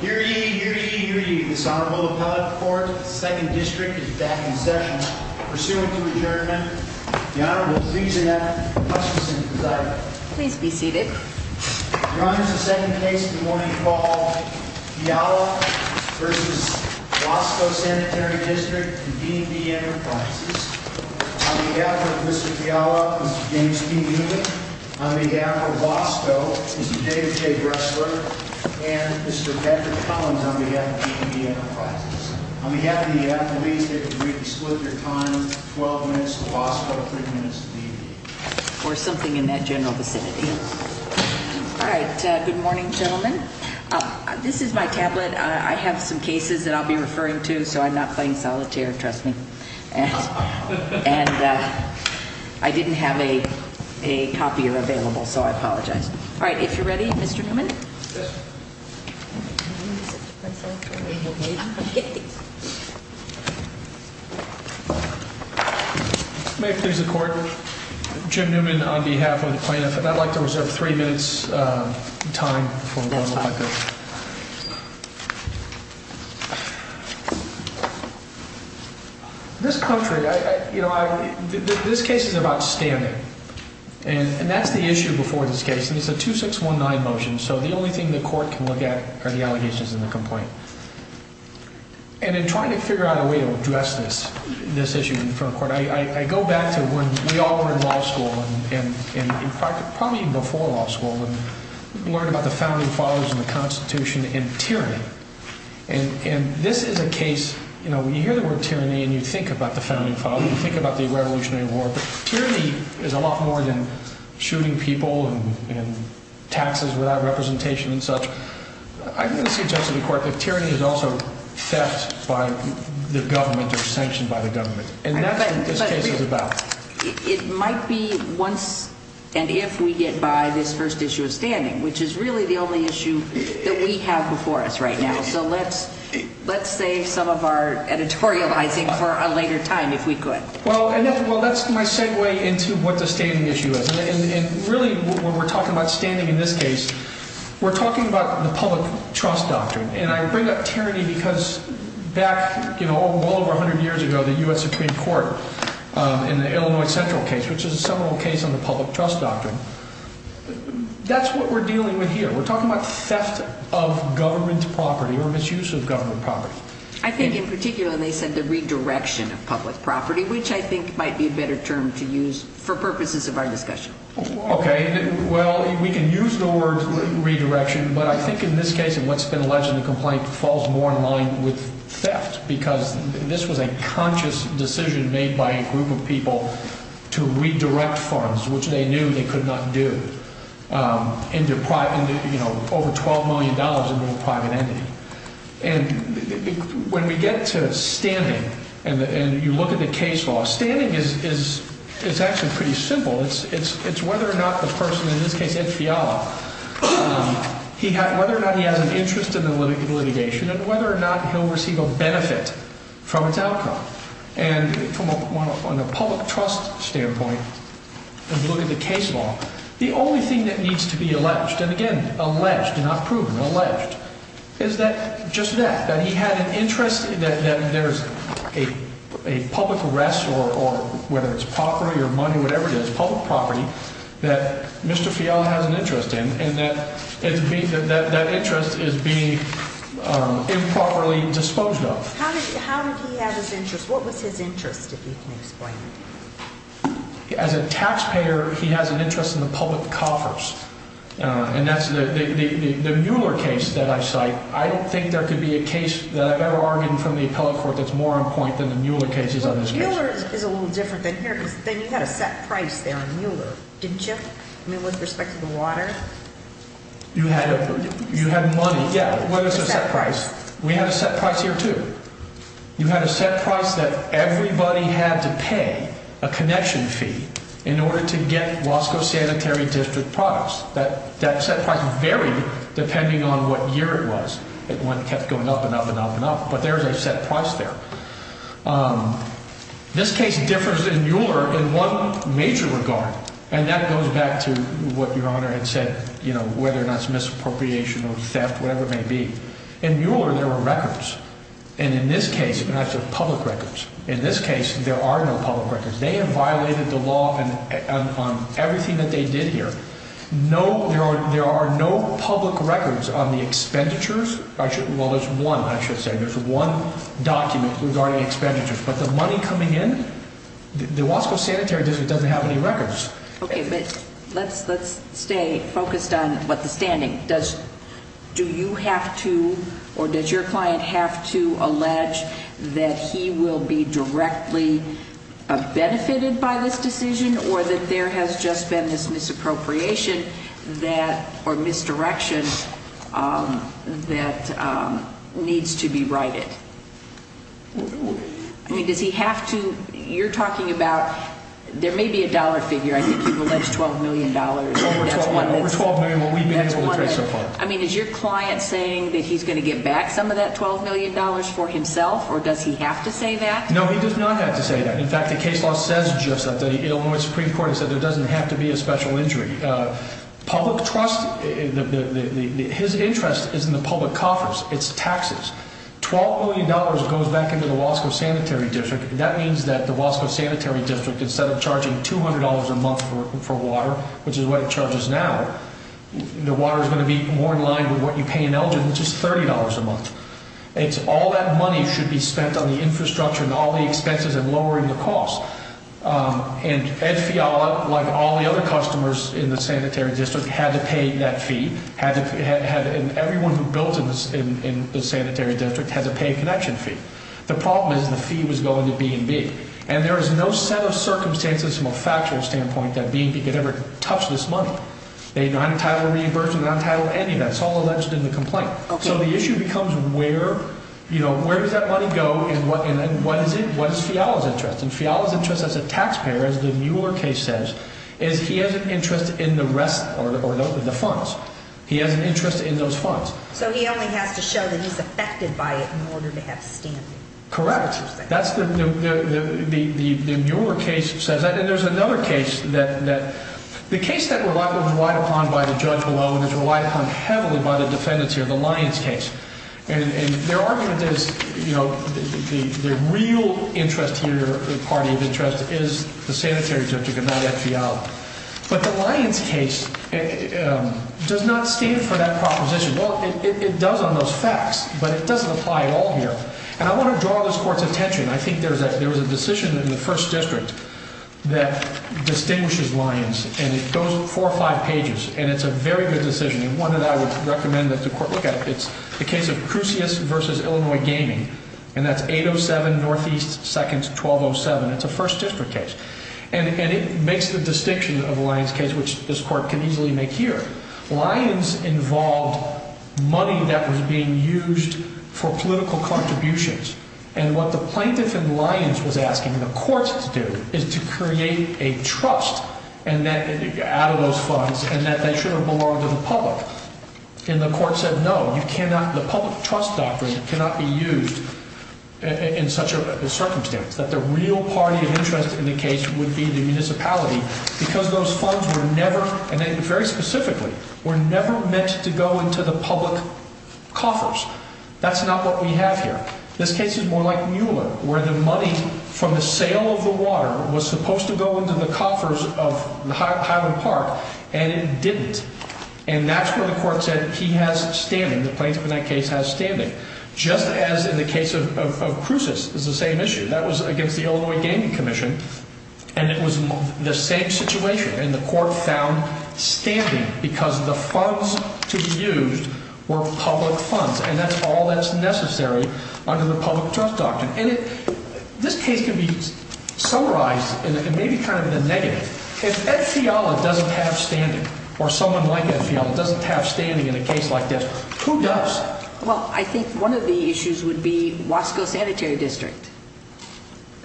Here ye, here ye, here ye, this Honorable Appellate Court, 2nd District, is back in session. Pursuant to adjournment, the Honorable Lisa F. Hutchinson is out. Please be seated. Your Honor, the second case this morning is called Fiala v. Wasco Sanitary District and D&D Enterprises. On behalf of Mr. Fiala, Mr. James P. Newman, on behalf of Wasco, Mr. David J. Bressler, and Mr. Patrick Collins, on behalf of D&D Enterprises. On behalf of the appellees, I'd like you to split your time 12 minutes to Wasco, 3 minutes to D&D. Or something in that general vicinity. All right, good morning, gentlemen. This is my tablet. I have some cases that I'll be referring to, so I'm not playing solitaire, trust me. And I didn't have a copier available, so I apologize. All right, if you're ready, Mr. Newman. May it please the Court, Jim Newman on behalf of the plaintiff. I'd like to reserve 3 minutes time for one more question. This country, you know, this case is about standing. And that's the issue before this case. And it's a 2619 motion, so the only thing the Court can look at are the allegations in the complaint. And in trying to figure out a way to address this, this issue in front of the Court, I go back to when we all were in law school, and probably even before law school, and learned about the founding fathers and the Constitution and tyranny. And this is a case, you know, when you hear the word tyranny and you think about the founding fathers, you think about the Revolutionary War, but tyranny is a lot more than shooting people and taxes without representation and such. I'm going to suggest to the Court that tyranny is also theft by the government or sanctioned by the government. And that's what this case is about. It might be once and if we get by this first issue of standing, which is really the only issue that we have before us right now. So let's save some of our editorializing for a later time if we could. Well, that's my segue into what the standing issue is. And really what we're talking about standing in this case, we're talking about the public trust doctrine. And I bring up tyranny because back, you know, well over 100 years ago, the U.S. Supreme Court in the Illinois Central case, which is a seminal case on the public trust doctrine, that's what we're dealing with here. We're talking about theft of government property or misuse of government property. I think in particular they said the redirection of public property, which I think might be a better term to use for purposes of our discussion. Okay. Well, we can use the word redirection, but I think in this case and what's been alleged in the complaint, falls more in line with theft because this was a conscious decision made by a group of people to redirect funds, which they knew they could not do, into private, you know, over $12 million into a private entity. And when we get to standing and you look at the case law, standing is actually pretty simple. It's whether or not the person, in this case Ed Fiala, whether or not he has an interest in the litigation and whether or not he'll receive a benefit from its outcome. And from a public trust standpoint, if you look at the case law, the only thing that needs to be alleged, and again, alleged, not proven, alleged, is that just that, that he had an interest, that there's a public arrest or whether it's property or money, whatever it is, public property, that Mr. Fiala has an interest in and that interest is being improperly disposed of. How did he have his interest? What was his interest, if you can explain it? As a taxpayer, he has an interest in the public coffers. And that's the Mueller case that I cite. I don't think there could be a case that I've ever argued in front of the appellate court that's more on point than the Mueller cases on this case. Well, Mueller is a little different than here because then you had a set price there on Mueller, didn't you? I mean, with respect to the water? You had money, yeah. What is a set price? We had a set price here, too. You had a set price that everybody had to pay a connection fee in order to get Wasco Sanitary District products. That set price varied depending on what year it was. It kept going up and up and up and up, but there's a set price there. This case differs than Mueller in one major regard, and that goes back to what Your Honor had said, whether or not it's misappropriation or theft, whatever it may be. In Mueller, there were records. And in this case, and I said public records. In this case, there are no public records. They have violated the law on everything that they did here. There are no public records on the expenditures. Well, there's one, I should say. There's one document regarding expenditures. Okay, but let's stay focused on the standing. Do you have to or does your client have to allege that he will be directly benefited by this decision or that there has just been this misappropriation or misdirection that needs to be righted? I mean, does he have to? You're talking about there may be a dollar figure. I think you've alleged $12 million. Over $12 million. Over $12 million, well, we've been able to trace so far. I mean, is your client saying that he's going to get back some of that $12 million for himself, or does he have to say that? No, he does not have to say that. In fact, the case law says just that. The Illinois Supreme Court has said there doesn't have to be a special injury. Public trust, his interest is in the public coffers. It's taxes. $12 million goes back into the Wasco Sanitary District. That means that the Wasco Sanitary District, instead of charging $200 a month for water, which is what it charges now, the water is going to be more in line with what you pay in Elgin, which is $30 a month. All that money should be spent on the infrastructure and all the expenses and lowering the cost. And Ed Fiala, like all the other customers in the Sanitary District, had to pay that fee. Everyone who builds in the Sanitary District has to pay a connection fee. The problem is the fee was going to B&B. And there is no set of circumstances from a factual standpoint that B&B could ever touch this money. They non-title reimbursement, non-title any, that's all alleged in the complaint. So the issue becomes where does that money go and what is Fiala's interest? And Fiala's interest as a taxpayer, as the Mueller case says, is he has an interest in the rest or the funds. He has an interest in those funds. So he only has to show that he's affected by it in order to have standing. Correct. That's the Mueller case says that. And there's another case that the case that was relied upon by the judge below and is relied upon heavily by the defendants here, the Lyons case. And their argument is, you know, the real interest here, party of interest is the Sanitary District and not Fiala. But the Lyons case does not stand for that proposition. Well, it does on those facts, but it doesn't apply at all here. And I want to draw this Court's attention. I think there was a decision in the First District that distinguishes Lyons, and it goes four or five pages. And it's a very good decision. And one that I would recommend that the Court look at, it's the case of Crucius v. Illinois Gaming. And that's 807 Northeast 2nd 1207. It's a First District case. And it makes the distinction of Lyons case, which this Court can easily make here. Lyons involved money that was being used for political contributions. And what the plaintiff in Lyons was asking the Court to do is to create a trust out of those funds and that they should have belonged to the public. And the Court said no, you cannot, the public trust doctrine cannot be used in such a circumstance. That the real party of interest in the case would be the municipality because those funds were never, and very specifically, were never meant to go into the public coffers. That's not what we have here. In fact, this case is more like Mueller, where the money from the sale of the water was supposed to go into the coffers of Highland Park, and it didn't. And that's where the Court said he has standing, the plaintiff in that case has standing. Just as in the case of Crucius is the same issue. That was against the Illinois Gaming Commission. And it was the same situation. And the Court found standing because the funds to be used were public funds. And that's all that's necessary under the public trust doctrine. And this case can be summarized in maybe kind of a negative. If Ed Fiala doesn't have standing, or someone like Ed Fiala doesn't have standing in a case like this, who does? Well, I think one of the issues would be Wasco Sanitary District.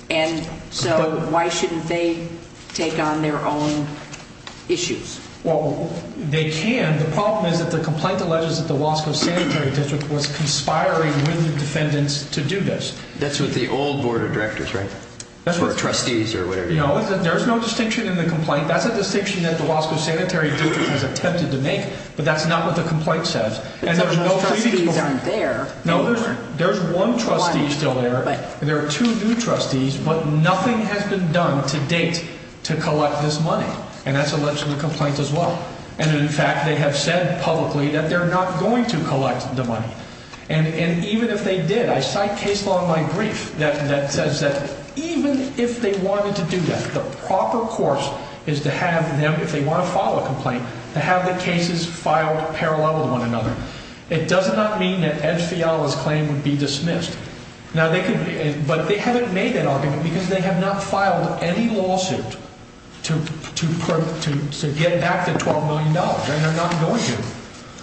And so why shouldn't they take on their own issues? Well, they can. The problem is that the complaint alleges that the Wasco Sanitary District was conspiring with the defendants to do this. That's with the old board of directors, right? Or trustees or whatever you want to call it. No, there's no distinction in the complaint. That's a distinction that the Wasco Sanitary District has attempted to make, but that's not what the complaint says. Because those trustees aren't there anymore. No, there's one trustee still there. There are two new trustees, but nothing has been done to date to collect this money. And that's alleged in the complaint as well. And, in fact, they have said publicly that they're not going to collect the money. And even if they did, I cite case law in my brief that says that even if they wanted to do that, the proper course is to have them, if they want to file a complaint, to have the cases filed parallel with one another. It does not mean that Ed Fiala's claim would be dismissed. But they haven't made that argument because they have not filed any lawsuit to get back the $12 million. And they're not going to.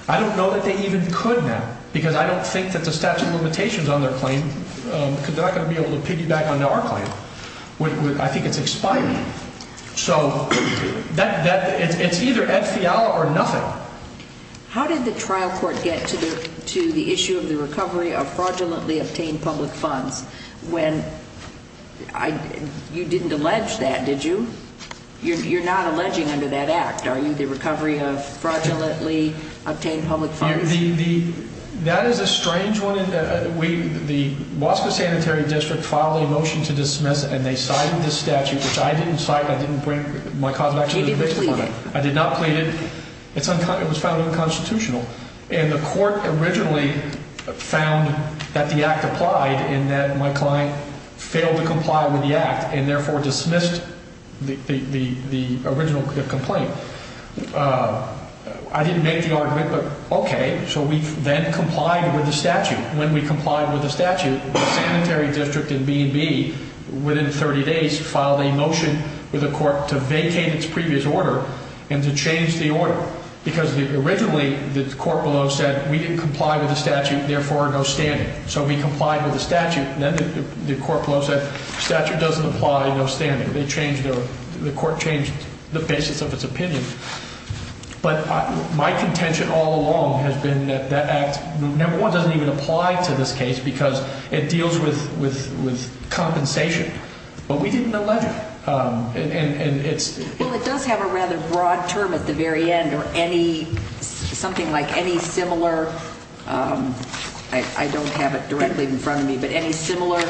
I don't know that they even could now because I don't think that the statute of limitations on their claim, because they're not going to be able to piggyback on our claim. I think it's expiring. So it's either Ed Fiala or nothing. How did the trial court get to the issue of the recovery of fraudulently obtained public funds when you didn't allege that, did you? You're not alleging under that act, are you, the recovery of fraudulently obtained public funds? That is a strange one. The Wasco Sanitary District filed a motion to dismiss, and they cited this statute, which I didn't cite. I didn't bring my cause of action to the case. You didn't plead it. I did not plead it. It was found unconstitutional. And the court originally found that the act applied and that my client failed to comply with the act and therefore dismissed the original complaint. I didn't make the argument, but okay. So we then complied with the statute. When we complied with the statute, the Sanitary District in B&B, within 30 days, filed a motion with the court to vacate its previous order and to change the order, because originally the court below said we didn't comply with the statute, therefore no standing. So we complied with the statute. Then the court below said statute doesn't apply, no standing. They changed their – the court changed the basis of its opinion. But my contention all along has been that that act, number one, doesn't even apply to this case because it deals with compensation. But we didn't allege it. And it's – Well, it does have a rather broad term at the very end or any – something like any similar – I don't have it directly in front of me, but any similar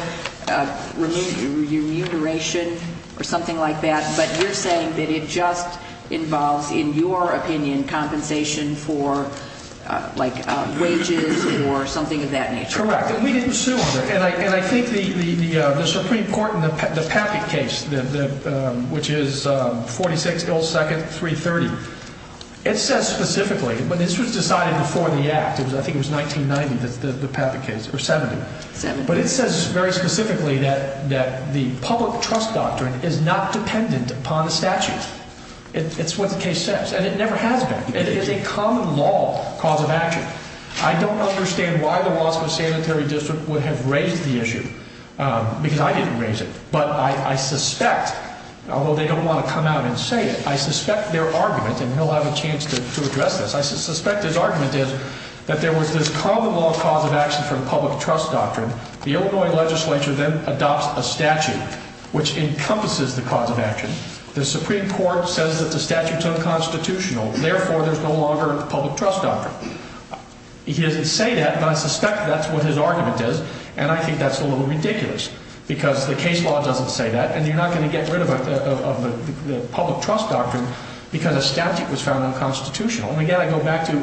remuneration or something like that. But you're saying that it just involves, in your opinion, compensation for like wages or something of that nature. Correct. And we didn't sue on it. And I think the Supreme Court in the Pappett case, which is 46 Gold Second, 330, it says specifically – but this was decided before the act. I think it was 1990, the Pappett case, or 70. 70. But it says very specifically that the public trust doctrine is not dependent upon the statute. It's what the case says. And it never has been. It is a common law cause of action. I don't understand why the Waspa Sanitary District would have raised the issue because I didn't raise it. But I suspect, although they don't want to come out and say it, I suspect their argument – and he'll have a chance to address this – but I suspect his argument is that there was this common law cause of action for the public trust doctrine. The Illinois legislature then adopts a statute which encompasses the cause of action. The Supreme Court says that the statute's unconstitutional. Therefore, there's no longer a public trust doctrine. He doesn't say that, but I suspect that's what his argument is. And I think that's a little ridiculous because the case law doesn't say that, and you're not going to get rid of the public trust doctrine because a statute was found unconstitutional. And, again, I go back to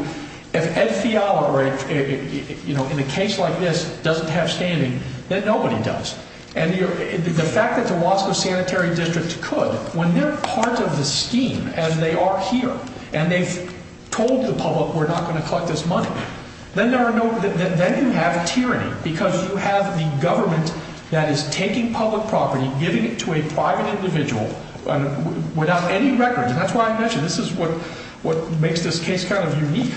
if Ed Fiala, in a case like this, doesn't have standing, then nobody does. And the fact that the Waspa Sanitary District could, when they're part of the scheme as they are here, and they've told the public we're not going to collect this money, then you have tyranny because you have the government that is taking public property, giving it to a private individual without any records. And that's why I mentioned this is what makes this case kind of unique.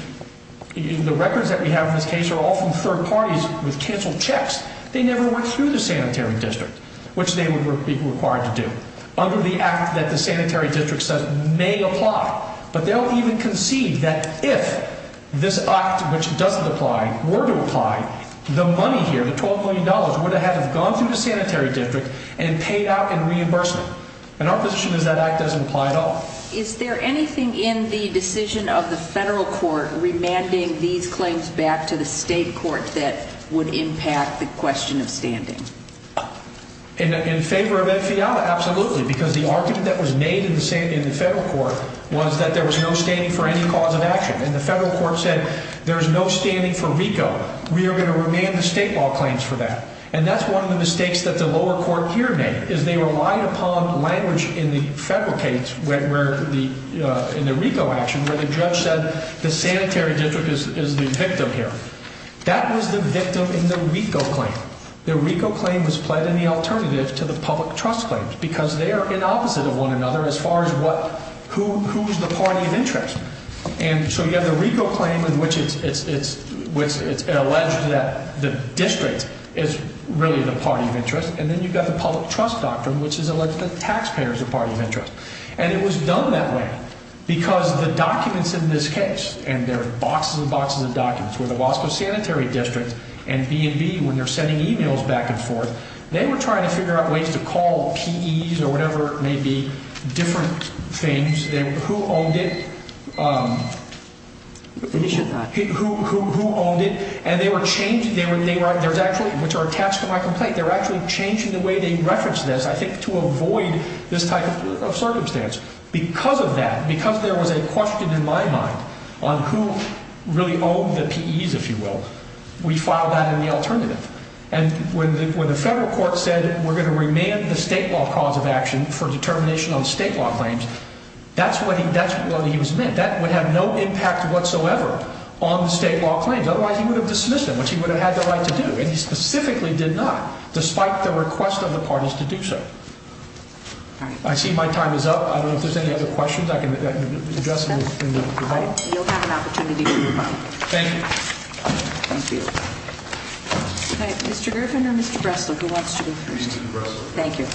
The records that we have in this case are all from third parties with canceled checks. They never went through the sanitary district, which they would be required to do under the act that the sanitary district says may apply. But they'll even concede that if this act, which doesn't apply, were to apply, the money here, the $12 million, would have had to have gone through the sanitary district and paid out in reimbursement. And our position is that act doesn't apply at all. Is there anything in the decision of the federal court remanding these claims back to the state court that would impact the question of standing? In favor of Ed Fiala, absolutely, because the argument that was made in the federal court was that there was no standing for any cause of action. And the federal court said there's no standing for RICO. We are going to remand the state law claims for that. And that's one of the mistakes that the lower court here made, is they relied upon language in the federal case, in the RICO action, where the judge said the sanitary district is the victim here. That was the victim in the RICO claim. The RICO claim was pled in the alternative to the public trust claims because they are in opposite of one another as far as who's the party of interest. And so you have the RICO claim in which it's alleged that the district is really the party of interest. And then you've got the public trust doctrine, which is alleged that the taxpayer is the party of interest. And it was done that way because the documents in this case, and there are boxes and boxes of documents, where the Wasco Sanitary District and B&B, when they're sending e-mails back and forth, they were trying to figure out ways to call PEs or whatever it may be, different things. Who owned it? Who owned it? And they were changing, which are attached to my complaint, they were actually changing the way they referenced this, I think, to avoid this type of circumstance. Because of that, because there was a question in my mind on who really owned the PEs, if you will, we filed that in the alternative. And when the federal court said we're going to remand the state law cause of action for determination on state law claims, that's what he was meant. That would have no impact whatsoever on the state law claims. Otherwise, he would have dismissed them, which he would have had the right to do. And he specifically did not, despite the request of the parties to do so. I see my time is up. I don't know if there's any other questions I can address in the debate. You'll have an opportunity to do so. Thank you. Thank you. Mr. Griffin or Mr. Bressler, who wants to go first? Mr. Bressler. Thank you.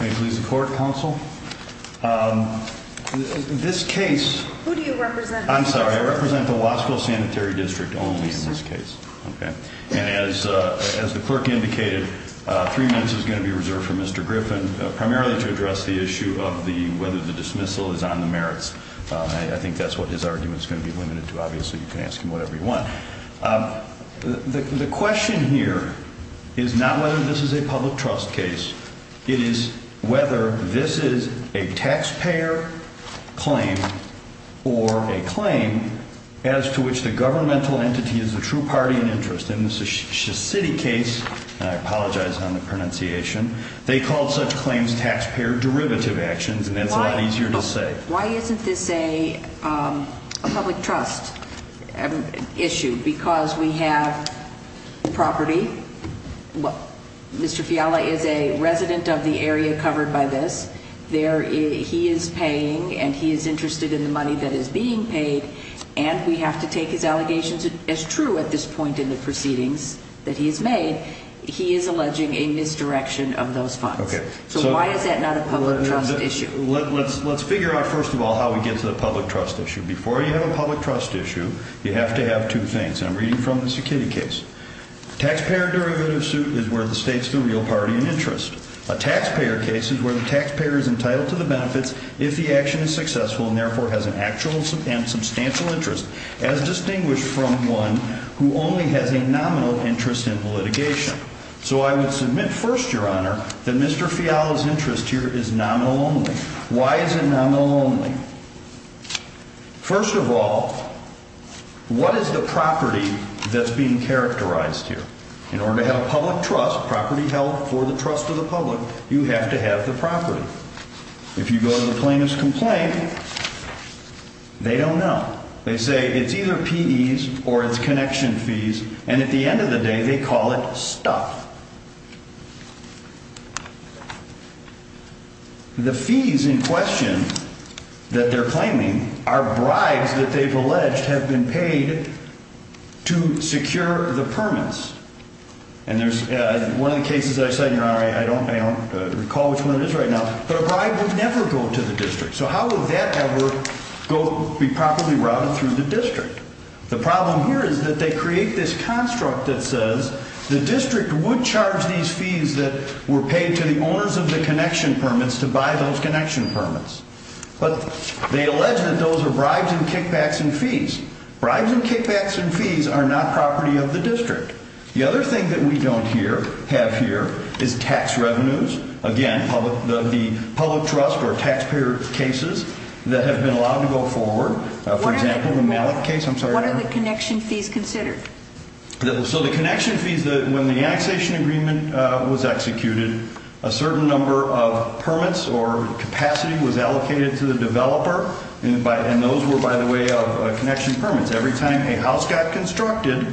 May it please the court, counsel? This case- Who do you represent? I'm sorry, I represent the Wasco Sanitary District only in this case. And as the clerk indicated, three minutes is going to be reserved for Mr. Griffin primarily to address the issue of whether the dismissal is on the merits. I think that's what his argument is going to be limited to. Obviously, you can ask him whatever you want. The question here is not whether this is a public trust case. It is whether this is a taxpayer claim or a claim as to which the governmental entity is the true party in interest. And this is a city case. And I apologize on the pronunciation. They call such claims taxpayer derivative actions, and that's a lot easier to say. Why isn't this a public trust issue? Because we have property. Mr. Fiala is a resident of the area covered by this. He is paying, and he is interested in the money that is being paid. And we have to take his allegations as true at this point in the proceedings that he has made. He is alleging a misdirection of those funds. So why is that not a public trust issue? Let's figure out, first of all, how we get to the public trust issue. Before you have a public trust issue, you have to have two things. I'm reading from the Cichitti case. Taxpayer derivative suit is where the state's the real party in interest. A taxpayer case is where the taxpayer is entitled to the benefits if the action is successful and, therefore, has an actual and substantial interest, as distinguished from one who only has a nominal interest in litigation. So I would submit first, Your Honor, that Mr. Fiala's interest here is nominal only. Why is it nominal only? First of all, what is the property that's being characterized here? In order to have public trust, property held for the trust of the public, you have to have the property. If you go to the plaintiff's complaint, they don't know. They say it's either P.E.s or it's connection fees, and at the end of the day, they call it stuff. The fees in question that they're claiming are bribes that they've alleged have been paid to secure the permits. And there's one of the cases that I said, Your Honor, I don't recall which one it is right now, but a bribe would never go to the district. So how would that ever be properly routed through the district? The problem here is that they create this construct that says the district would charge these fees that were paid to the owners of the connection permits to buy those connection permits. But they allege that those are bribes and kickbacks and fees. Bribes and kickbacks and fees are not property of the district. The other thing that we don't have here is tax revenues. Again, the public trust or taxpayer cases that have been allowed to go forward. For example, the Malik case. I'm sorry, Your Honor. What are the connection fees considered? So the connection fees, when the annexation agreement was executed, a certain number of permits or capacity was allocated to the developer. And those were, by the way, connection permits. Every time a house got constructed,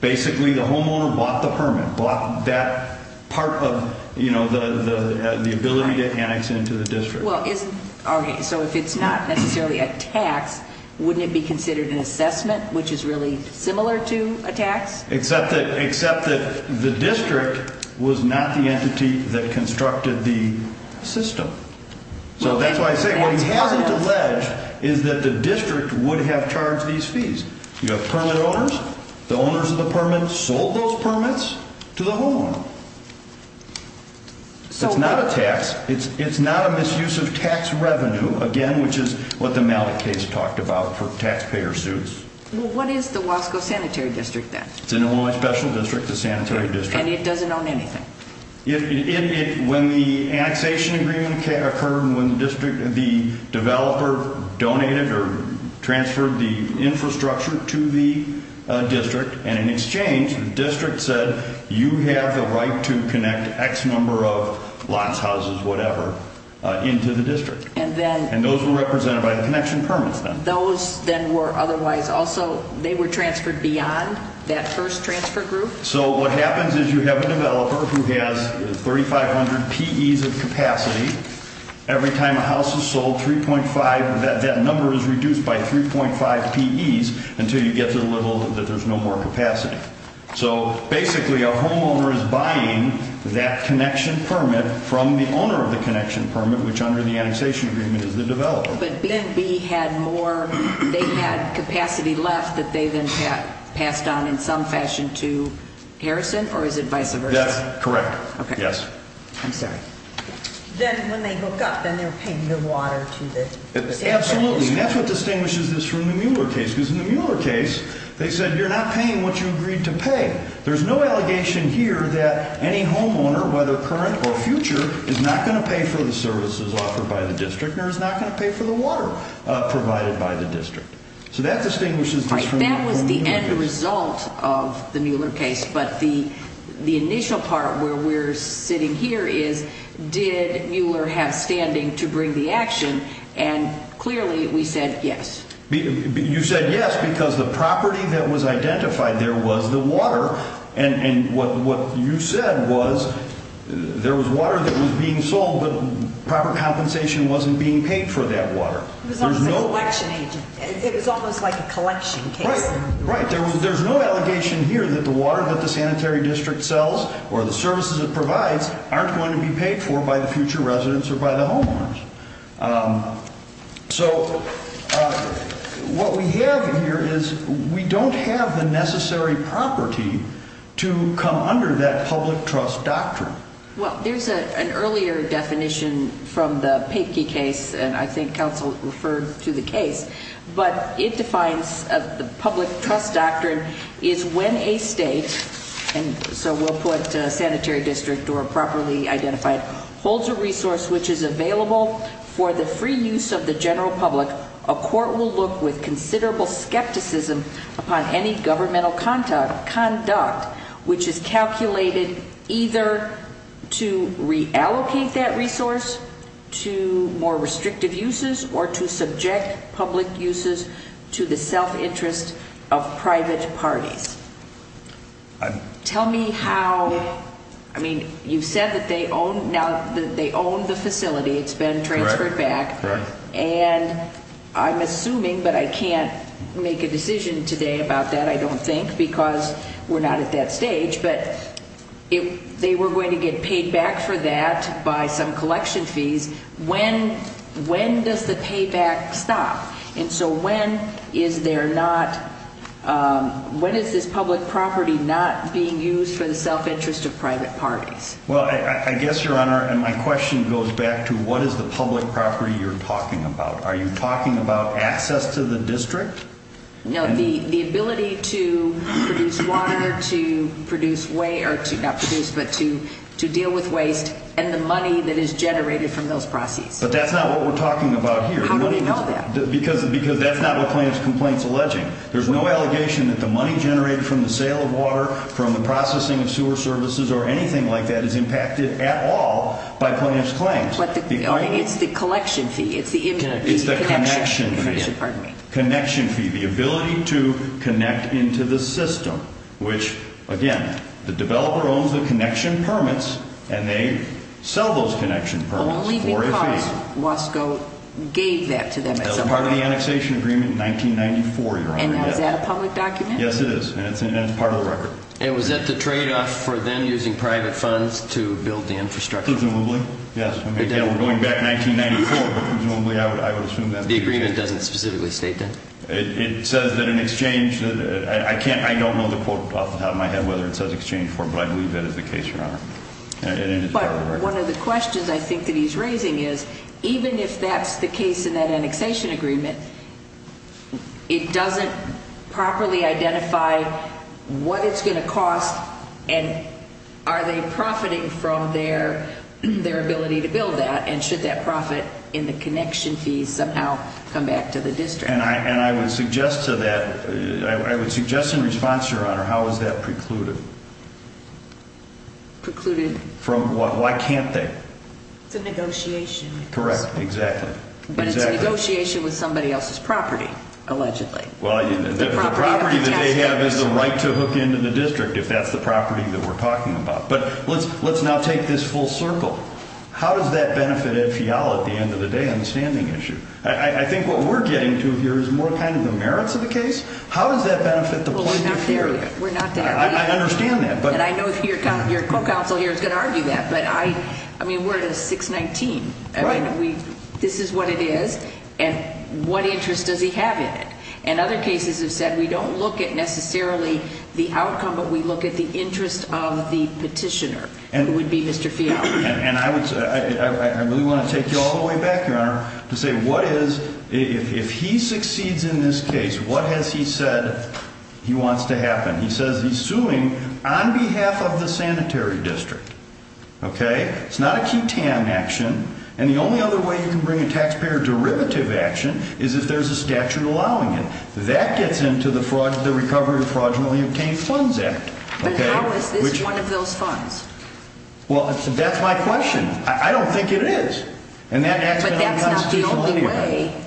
basically the homeowner bought the permit, bought that part of the ability to annex into the district. So if it's not necessarily a tax, wouldn't it be considered an assessment, which is really similar to a tax? Except that the district was not the entity that constructed the system. So that's why I say what he hasn't alleged is that the district would have charged these fees. You have permit owners. The owners of the permits sold those permits to the homeowner. It's not a tax. It's not a misuse of tax revenue. Again, which is what the Malik case talked about for taxpayer suits. What is the Wasco Sanitary District then? It's an Illinois special district, the sanitary district. And it doesn't own anything? When the annexation agreement occurred, when the developer donated or transferred the infrastructure to the district, and in exchange, the district said you have the right to connect X number of lots, houses, whatever, into the district. And those were represented by the connection permits then? Those then were otherwise also, they were transferred beyond that first transfer group. So what happens is you have a developer who has 3,500 PEs of capacity. Every time a house is sold, 3.5, that number is reduced by 3.5 PEs until you get to the level that there's no more capacity. So basically a homeowner is buying that connection permit from the owner of the connection permit, which under the annexation agreement is the developer. But B and B had more, they had capacity left that they then passed on in some fashion to Harrison, or is it vice versa? That's correct. Yes. I'm sorry. Then when they hook up, then they're paying the water to the sanitary district? Absolutely, and that's what distinguishes this from the Mueller case. Because in the Mueller case, they said you're not paying what you agreed to pay. There's no allegation here that any homeowner, whether current or future, is not going to pay for the services offered by the district, nor is not going to pay for the water provided by the district. So that distinguishes this from the Mueller case. But the initial part where we're sitting here is, did Mueller have standing to bring the action? And clearly we said yes. You said yes because the property that was identified there was the water. And what you said was there was water that was being sold, but proper compensation wasn't being paid for that water. It was almost like a collection case. Right. There's no allegation here that the water that the sanitary district sells or the services it provides aren't going to be paid for by the future residents or by the homeowners. So what we have here is we don't have the necessary property to come under that public trust doctrine. Well, there's an earlier definition from the Papeki case, and I think counsel referred to the case, but it defines the public trust doctrine is when a state, and so we'll put sanitary district or properly identified, holds a resource which is available for the free use of the general public, a court will look with considerable skepticism upon any governmental conduct which is calculated either to reallocate that resource to more restrictive uses or to subject public uses to the self-interest of private parties. Tell me how, I mean, you said that they own the facility. It's been transferred back. And I'm assuming, but I can't make a decision today about that, I don't think, because we're not at that stage, but if they were going to get paid back for that by some collection fees, when does the payback stop? And so when is there not, when is this public property not being used for the self-interest of private parties? Well, I guess, Your Honor, and my question goes back to what is the public property you're talking about? Are you talking about access to the district? No, the ability to produce water, to produce, not produce, but to deal with waste, and the money that is generated from those proceeds. But that's not what we're talking about here. How do we know that? Because that's not what plaintiff's complaint's alleging. There's no allegation that the money generated from the sale of water, from the processing of sewer services or anything like that is impacted at all by plaintiff's claims. It's the collection fee. It's the connection fee. Pardon me. Connection fee, the ability to connect into the system, which, again, the developer owns the connection permits, and they sell those connection permits for a fee. Only because Wasco gave that to them at some point. That was part of the annexation agreement in 1994, Your Honor. And now is that a public document? Yes, it is, and it's part of the record. And was that the tradeoff for them using private funds to build the infrastructure? Presumably, yes. Going back 1994, presumably I would assume that. The agreement doesn't specifically state that. It says that in exchange, I don't know off the top of my head whether it says exchange for, but I believe that is the case, Your Honor. But one of the questions I think that he's raising is, even if that's the case in that annexation agreement, it doesn't properly identify what it's going to cost and are they profiting from their ability to build that, and should that profit in the connection fees somehow come back to the district? And I would suggest to that, I would suggest in response, Your Honor, how is that precluded? Precluded? From what? Why can't they? It's a negotiation. Correct, exactly. But it's a negotiation with somebody else's property, allegedly. Well, the property that they have is the right to hook into the district, if that's the property that we're talking about. But let's now take this full circle. How does that benefit Ed Fiala at the end of the day on the standing issue? I think what we're getting to here is more kind of the merits of the case. How does that benefit the plaintiff here? We're not there yet. I understand that. And I know your co-counsel here is going to argue that, but I mean, we're at a 619. This is what it is, and what interest does he have in it? And other cases have said we don't look at necessarily the outcome, but we look at the interest of the petitioner, who would be Mr. Fiala. And I really want to take you all the way back, Your Honor, to say what is, if he succeeds in this case, what has he said he wants to happen? He says he's suing on behalf of the sanitary district. Okay? It's not a QTAN action. And the only other way you can bring a taxpayer derivative action is if there's a statute allowing it. That gets into the Recovery of Fraudulently Obtained Funds Act. But how is this one of those funds? Well, that's my question. I don't think it is. But that's not the only way.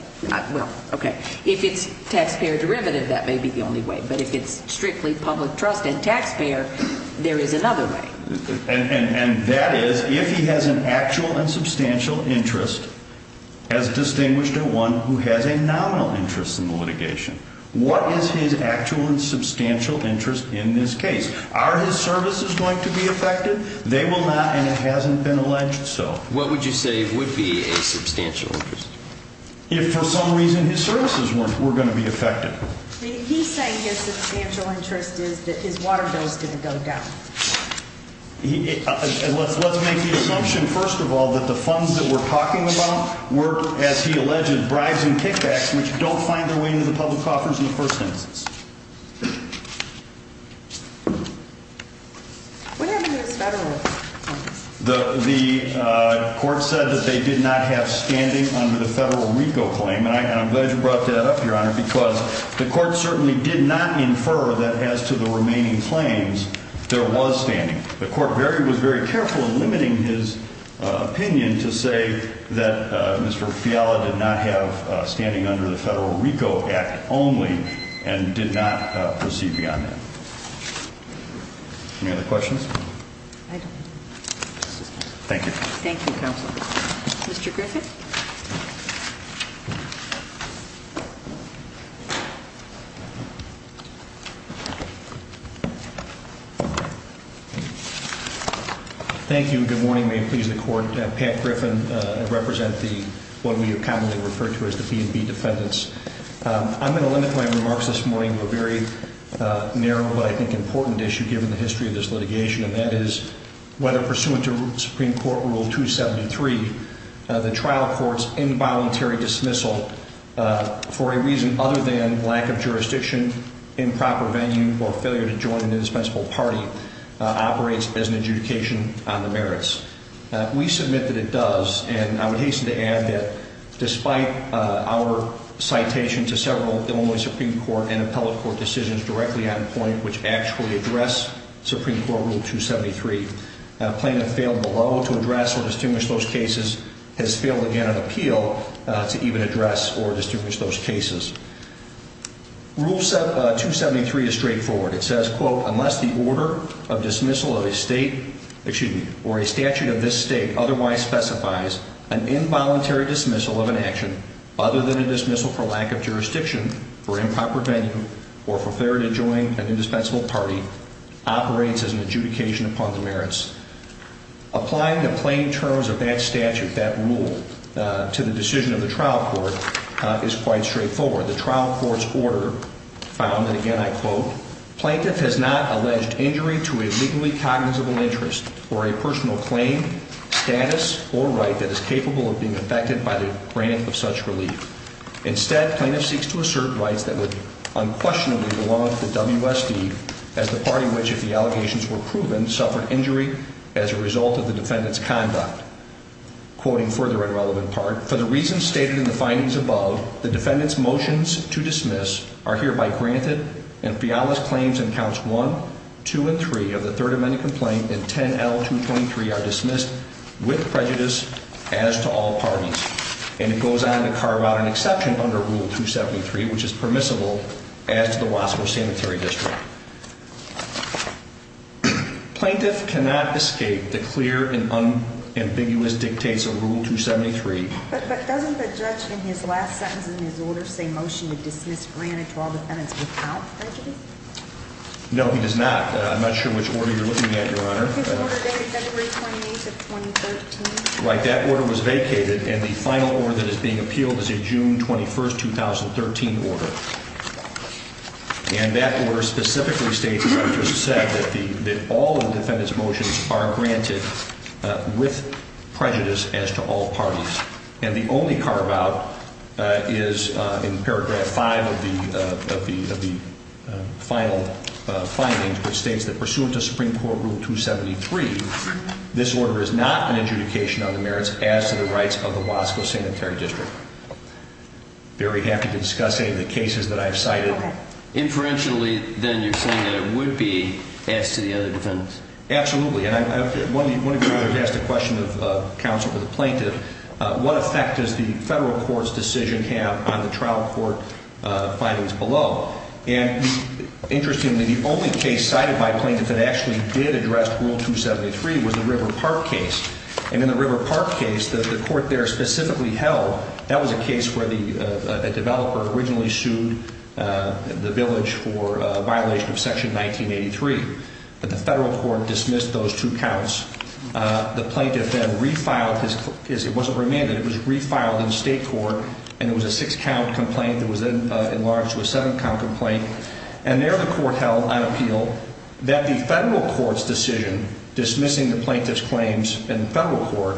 Well, okay. If it's taxpayer derivative, that may be the only way. But if it's strictly public trust and taxpayer, there is another way. And that is, if he has an actual and substantial interest as distinguished at one who has a nominal interest in the litigation, what is his actual and substantial interest in this case? Are his services going to be affected? They will not, and it hasn't been alleged so. What would you say would be a substantial interest? If for some reason his services were going to be affected. He's saying his substantial interest is that his water bill is going to go down. Let's make the assumption, first of all, that the funds that we're talking about were, as he alleged, bribes and kickbacks, which don't find their way into the public coffers in the first instance. What happened to his federal claims? The court said that they did not have standing under the federal RICO claim. And I'm glad you brought that up, Your Honor, because the court certainly did not infer that as to the remaining claims, there was standing. The court was very careful in limiting his opinion to say that Mr. Fiala did not have standing under the federal RICO Act only and did not proceed beyond that. Any other questions? Thank you. Thank you, counsel. Mr. Griffith? Thank you. Good morning. May it please the court. Pat Griffith, I represent what we commonly refer to as the B&B defendants. I'm going to limit my remarks this morning to a very narrow, but I think important issue given the history of this litigation, and that is whether, pursuant to Supreme Court Rule 273, the trial court's involuntary dismissal for a reason other than lack of jurisdiction, improper venue, or failure to join an indispensable party operates as an adjudication on the merits. We submit that it does, and I would hasten to add that despite our citation to several Illinois Supreme Court and appellate court decisions directly on point which actually address Supreme Court Rule 273, plaintiff failed below to address or distinguish those cases, has failed again on appeal to even address or distinguish those cases. Rule 273 is straightforward. It says, quote, Unless the order of dismissal of a statute of this state otherwise specifies an involuntary dismissal of an action other than a dismissal for lack of jurisdiction, for improper venue, or for failure to join an indispensable party, operates as an adjudication upon the merits. Applying the plain terms of that statute, that rule, to the decision of the trial court is quite straightforward. The trial court's order found, and again I quote, Plaintiff has not alleged injury to a legally cognizable interest or a personal claim, status, or right that is capable of being affected by the grant of such relief. Instead, plaintiff seeks to assert rights that would unquestionably belong to the WSD as the party which, if the allegations were proven, suffered injury as a result of the defendant's conduct. Quoting further a relevant part, For the reasons stated in the findings above, the defendant's motions to dismiss are hereby granted, and Fiala's claims in counts 1, 2, and 3 of the Third Amendment complaint in 10L.223 are dismissed with prejudice as to all parties. And it goes on to carve out an exception under Rule 273, which is permissible as to the Wasco Cemetery District. Plaintiff cannot escape the clear and unambiguous dictates of Rule 273. But doesn't the judge in his last sentence in his order say motion to dismiss granted to all defendants without prejudice? No, he does not. I'm not sure which order you're looking at, Your Honor. His order dated February 28th of 2013. Right, that order was vacated, and the final order that is being appealed is a June 21st, 2013 order. And that order specifically states, as I've just said, that all the defendant's motions are granted with prejudice as to all parties. And the only carve-out is in Paragraph 5 of the final findings, which states that pursuant to Supreme Court Rule 273, this order is not an adjudication on the merits as to the rights of the Wasco Cemetery District. Very happy to discuss any of the cases that I've cited. Inferentially, then, you're saying that it would be as to the other defendants. Absolutely. And one of you has asked a question of counsel for the plaintiff. What effect does the federal court's decision have on the trial court findings below? And interestingly, the only case cited by a plaintiff that actually did address Rule 273 was the River Park case. And in the River Park case that the court there specifically held, that was a case where a developer originally sued the village for a violation of Section 1983. But the federal court dismissed those two counts. The plaintiff then refiled his claim. It wasn't remanded. It was refiled in state court, and it was a six-count complaint that was then enlarged to a seven-count complaint. And there the court held on appeal that the federal court's decision, dismissing the plaintiff's claims in federal court,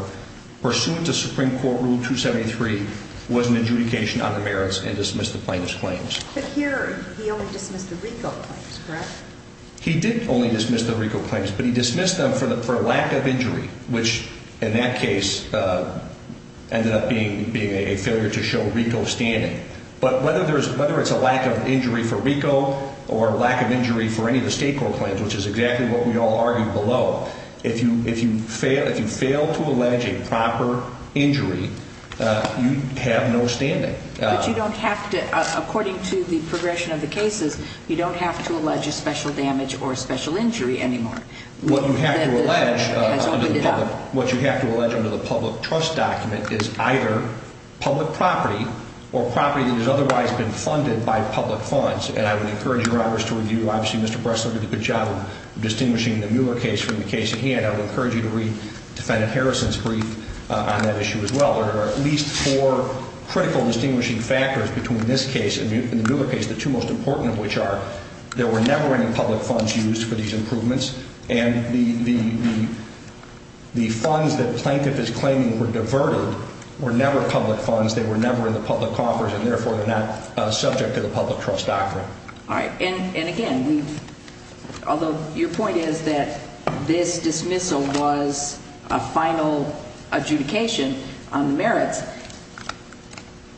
pursuant to Supreme Court Rule 273, was an adjudication on the merits and dismissed the plaintiff's claims. But here he only dismissed the RICO claims, correct? He did only dismiss the RICO claims, but he dismissed them for lack of injury, which in that case ended up being a failure to show RICO standing. But whether it's a lack of injury for RICO or lack of injury for any of the state court claims, which is exactly what we all argued below, if you fail to allege a proper injury, you have no standing. But you don't have to. According to the progression of the cases, you don't have to allege a special damage or a special injury anymore. What you have to allege under the public trust document is either public property or property that has otherwise been funded by public funds. And I would encourage you, Roberts, to review. Obviously, Mr. Bressler did a good job of distinguishing the Mueller case from the case at hand. I would encourage you to read Defendant Harrison's brief on that issue as well. There are at least four critical distinguishing factors between this case and the Mueller case, the two most important of which are there were never any public funds used for these improvements, and the funds that the plaintiff is claiming were diverted were never public funds. They were never in the public coffers, and therefore they're not subject to the public trust doctrine. All right. And, again, although your point is that this dismissal was a final adjudication on the merits,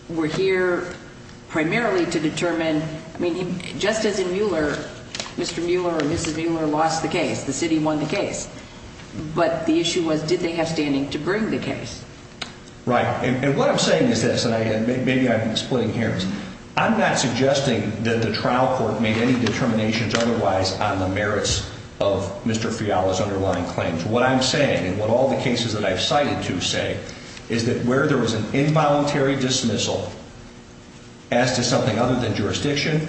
we're here primarily to determine, I mean, just as in Mueller, Mr. Mueller or Mrs. Mueller lost the case. The city won the case. But the issue was did they have standing to bring the case. Right. And what I'm saying is this, and maybe I can explain here. I'm not suggesting that the trial court made any determinations otherwise on the merits of Mr. Fiala's underlying claims. What I'm saying and what all the cases that I've cited to say is that where there was an involuntary dismissal as to something other than jurisdiction,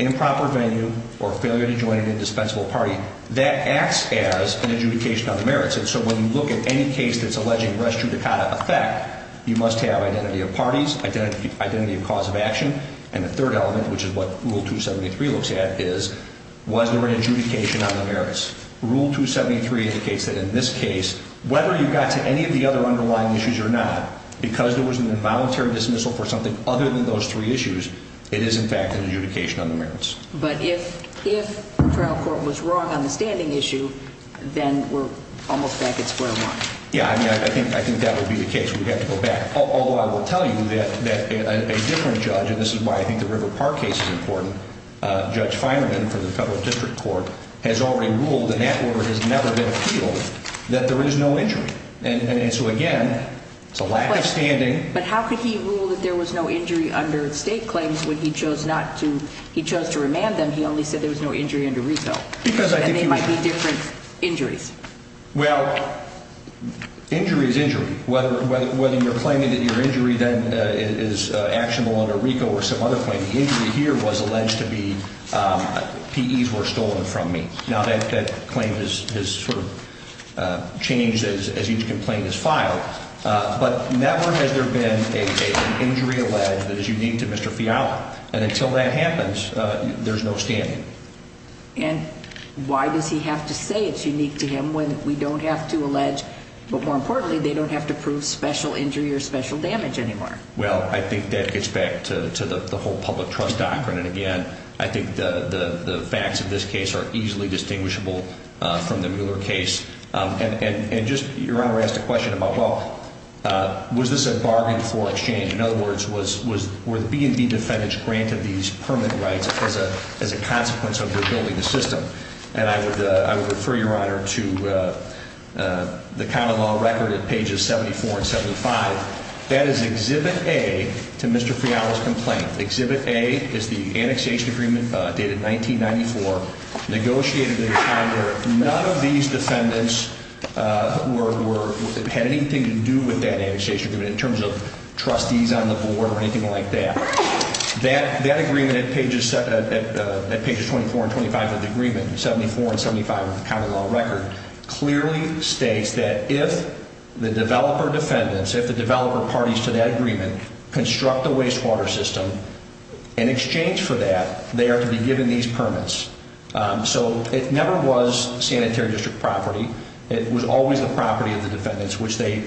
improper venue, or failure to join an indispensable party, that acts as an adjudication on the merits. And so when you look at any case that's alleging res judicata effect, you must have identity of parties, identity of cause of action, and the third element, which is what Rule 273 looks at, is was there an adjudication on the merits. Rule 273 indicates that in this case, whether you got to any of the other underlying issues or not, because there was an involuntary dismissal for something other than those three issues, it is, in fact, an adjudication on the merits. But if the trial court was wrong on the standing issue, then we're almost back at square one. Yeah. I mean, I think that would be the case. We'd have to go back. Although I will tell you that a different judge, and this is why I think the River Park case is important, Judge Feinerman from the Federal District Court has already ruled, and that order has never been appealed, that there is no injury. And so, again, it's a lack of standing. But how could he rule that there was no injury under state claims when he chose not to? He chose to remand them. He only said there was no injury under reto. Because I think he might be different injuries. Well, injury is injury. Whether you're claiming that your injury, then, is actionable under reto or some other claim, the injury here was alleged to be PEs were stolen from me. Now, that claim has sort of changed as each complaint is filed. But never has there been an injury alleged that is unique to Mr. Fiala. And until that happens, there's no standing. And why does he have to say it's unique to him when we don't have to allege, but more importantly, they don't have to prove special injury or special damage anymore? Well, I think that gets back to the whole public trust doctrine. And, again, I think the facts of this case are easily distinguishable from the Mueller case. And just your Honor asked a question about, well, was this a bargain for exchange? In other words, were the B&B defendants granted these permanent rights as a consequence of rebuilding the system? And I would refer your Honor to the common law record at pages 74 and 75. That is Exhibit A to Mr. Fiala's complaint. Exhibit A is the annexation agreement dated 1994, negotiated in a time where none of these defendants had anything to do with that annexation agreement in terms of trustees on the board or anything like that. That agreement at pages 24 and 25 of the agreement, 74 and 75 of the common law record, clearly states that if the developer defendants, if the developer parties to that agreement, construct a wastewater system, in exchange for that, they are to be given these permits. So it never was sanitary district property. It was always the property of the defendants, which they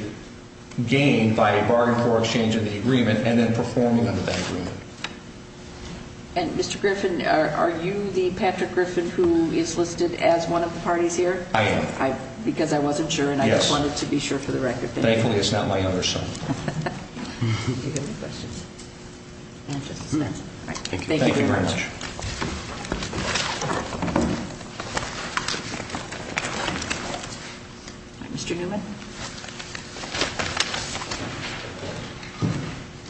gained by a bargain for exchange in the agreement and then performing under that agreement. And Mr. Griffin, are you the Patrick Griffin who is listed as one of the parties here? I am. Because I wasn't sure and I just wanted to be sure for the record. Thankfully, it's not my younger son. Do you have any questions? Thank you. Thank you very much. Thank you. Mr. Newman.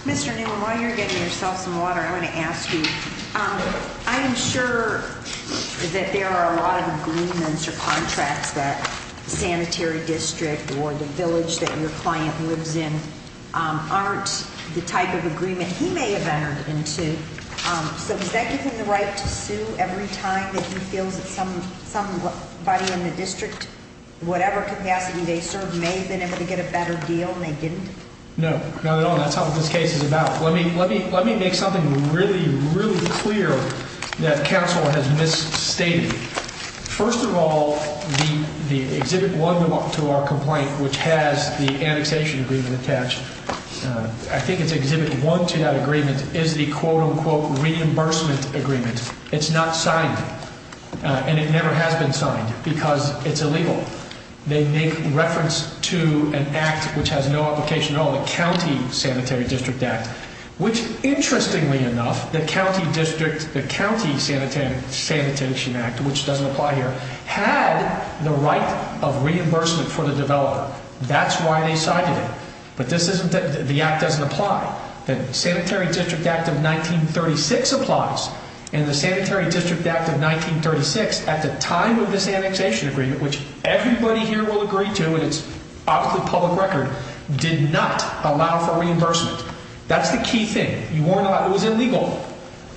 Mr. Newman, while you're getting yourself some water, I want to ask you, I am sure that there are a lot of agreements or contracts that sanitary district or the village that your client lives in aren't the type of agreement he may have entered into. So does that give him the right to sue every time that he feels that somebody in the district, whatever capacity they serve, may have been able to get a better deal and they didn't? No, not at all. That's not what this case is about. Let me make something really, really clear that counsel has misstated. First of all, the Exhibit 1 to our complaint, which has the annexation agreement attached, I think it's Exhibit 1 to that agreement is the quote unquote reimbursement agreement. It's not signed and it never has been signed because it's illegal. They make reference to an act which has no application at all, the County Sanitary District Act, which interestingly enough, the County Sanitation Act, which doesn't apply here, had the right of reimbursement for the developer. That's why they signed it. But the act doesn't apply. The Sanitary District Act of 1936 applies, and the Sanitary District Act of 1936, at the time of this annexation agreement, which everybody here will agree to, and it's off the public record, did not allow for reimbursement. That's the key thing. It was illegal.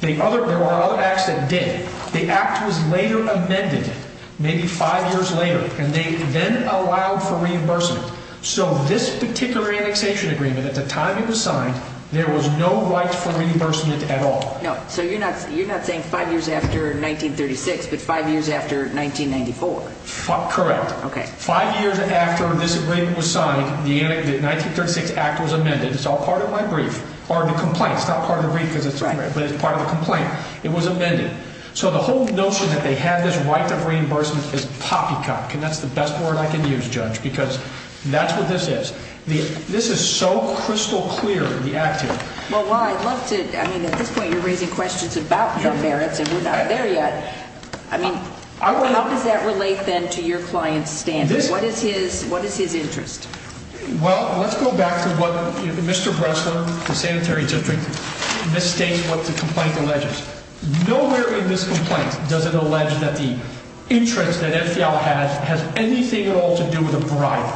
There were other acts that did. The act was later amended, maybe five years later, and they then allowed for reimbursement. So this particular annexation agreement, at the time it was signed, there was no right for reimbursement at all. No. So you're not saying five years after 1936, but five years after 1994. Correct. Five years after this agreement was signed, the 1936 act was amended. It's all part of my brief. Or the complaint. It's not part of the brief, but it's part of the complaint. It was amended. So the whole notion that they had this right of reimbursement is poppycock, and that's the best word I can use, Judge, because that's what this is. This is so crystal clear, the act here. Well, I'd love to, I mean, at this point you're raising questions about your merits, and we're not there yet. I mean, how does that relate, then, to your client's standards? What is his interest? Well, let's go back to what Mr. Bressler, the Sanitary District, mistakes what the complaint alleges. Nowhere in this complaint does it allege that the interest that FDL has has anything at all to do with a bribe.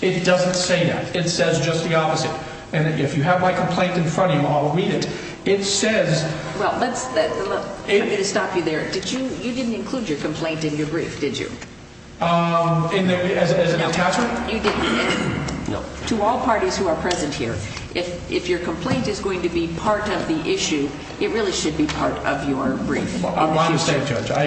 It doesn't say that. It says just the opposite. And if you have my complaint in front of you, I'll read it. It says. Well, I'm going to stop you there. You didn't include your complaint in your brief, did you? As an attachment? No, you didn't. To all parties who are present here, if your complaint is going to be part of the issue, it really should be part of your brief. My mistake, Judge. I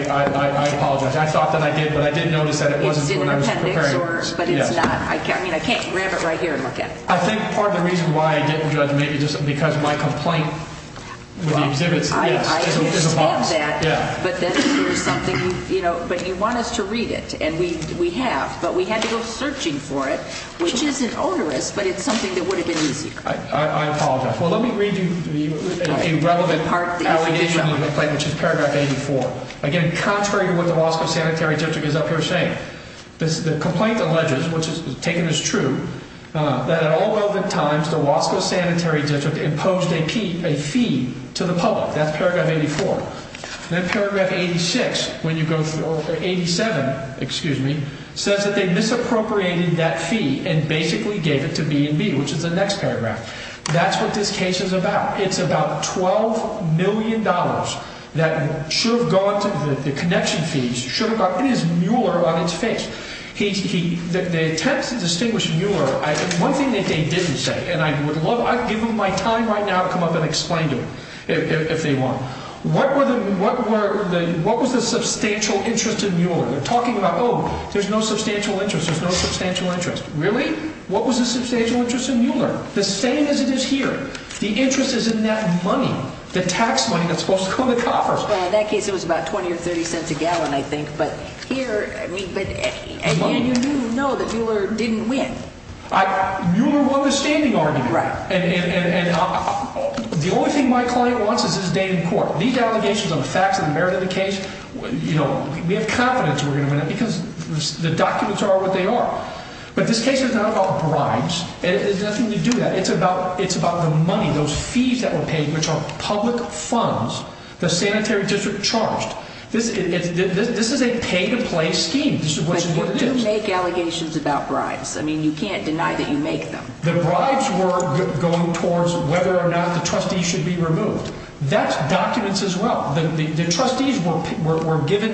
apologize. I thought that I did, but I didn't notice that it wasn't when I was preparing. It's in an appendix, but it's not. I mean, I can't grab it right here and look at it. I think part of the reason why I didn't, Judge, maybe just because my complaint with the exhibits is a false. I understand that, but then there's something, you know, but you want us to read it, and we have, but we had to go searching for it, which isn't onerous, but it's something that would have been easier. I apologize. Well, let me read you a relevant complaint, which is Paragraph 84. Again, contrary to what the Wasco Sanitary District is up here saying, the complaint alleges, which is taken as true, that at all relevant times the Wasco Sanitary District imposed a fee to the public. That's Paragraph 84. Then Paragraph 86, when you go through, or 87, excuse me, says that they misappropriated that fee and basically gave it to B&B, which is the next paragraph. That's what this case is about. It's about $12 million that should have gone to the connection fees, should have gone, and it's Mueller on its face. The attempts to distinguish Mueller, one thing that they didn't say, and I would love, I'd give them my time right now to come up and explain to them if they want. What was the substantial interest in Mueller? They're talking about, oh, there's no substantial interest, there's no substantial interest. Really? What was the substantial interest in Mueller? The same as it is here. The interest is in that money, the tax money that's supposed to come to coffers. Well, in that case it was about $0.20 or $0.30 a gallon, I think, but here, I mean, but again, you do know that Mueller didn't win. Mueller won the standing argument. Right. And the only thing my client wants is his name in court. These allegations of facts and merit of the case, you know, we have confidence we're going to win it because the documents are what they are. But this case is not about bribes. It's nothing to do with that. It's about the money, those fees that were paid, which are public funds, the sanitary district charged. This is a pay-to-play scheme. But you do make allegations about bribes. I mean, you can't deny that you make them. The bribes were going towards whether or not the trustees should be removed. That's documents as well. The trustees were given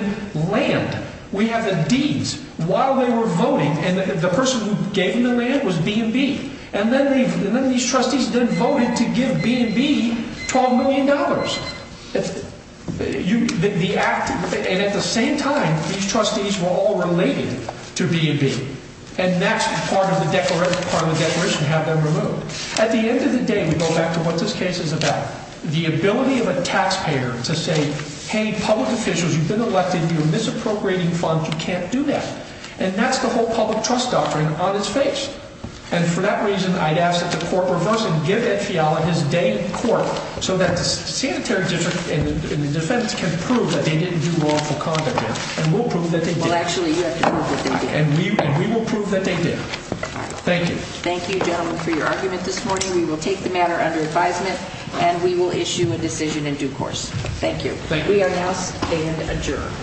land. We have the deeds while they were voting, and the person who gave them the land was B&B. And then these trustees then voted to give B&B $12 million. And at the same time, these trustees were all related to B&B. And that's part of the declaration to have them removed. At the end of the day, we go back to what this case is about, the ability of a taxpayer to say, hey, public officials, you've been elected, you're misappropriating funds, you can't do that. And that's the whole public trust doctrine on its face. And for that reason, I'd ask that the court reverse and give Ed Fiala his day in court so that the sanitary district and the defense can prove that they didn't do wrongful conduct. And we'll prove that they did. Well, actually, you have to prove that they did. And we will prove that they did. Thank you. Thank you, gentlemen, for your argument this morning. We will take the matter under advisement, and we will issue a decision in due course. Thank you. Thank you. We are now adjourned.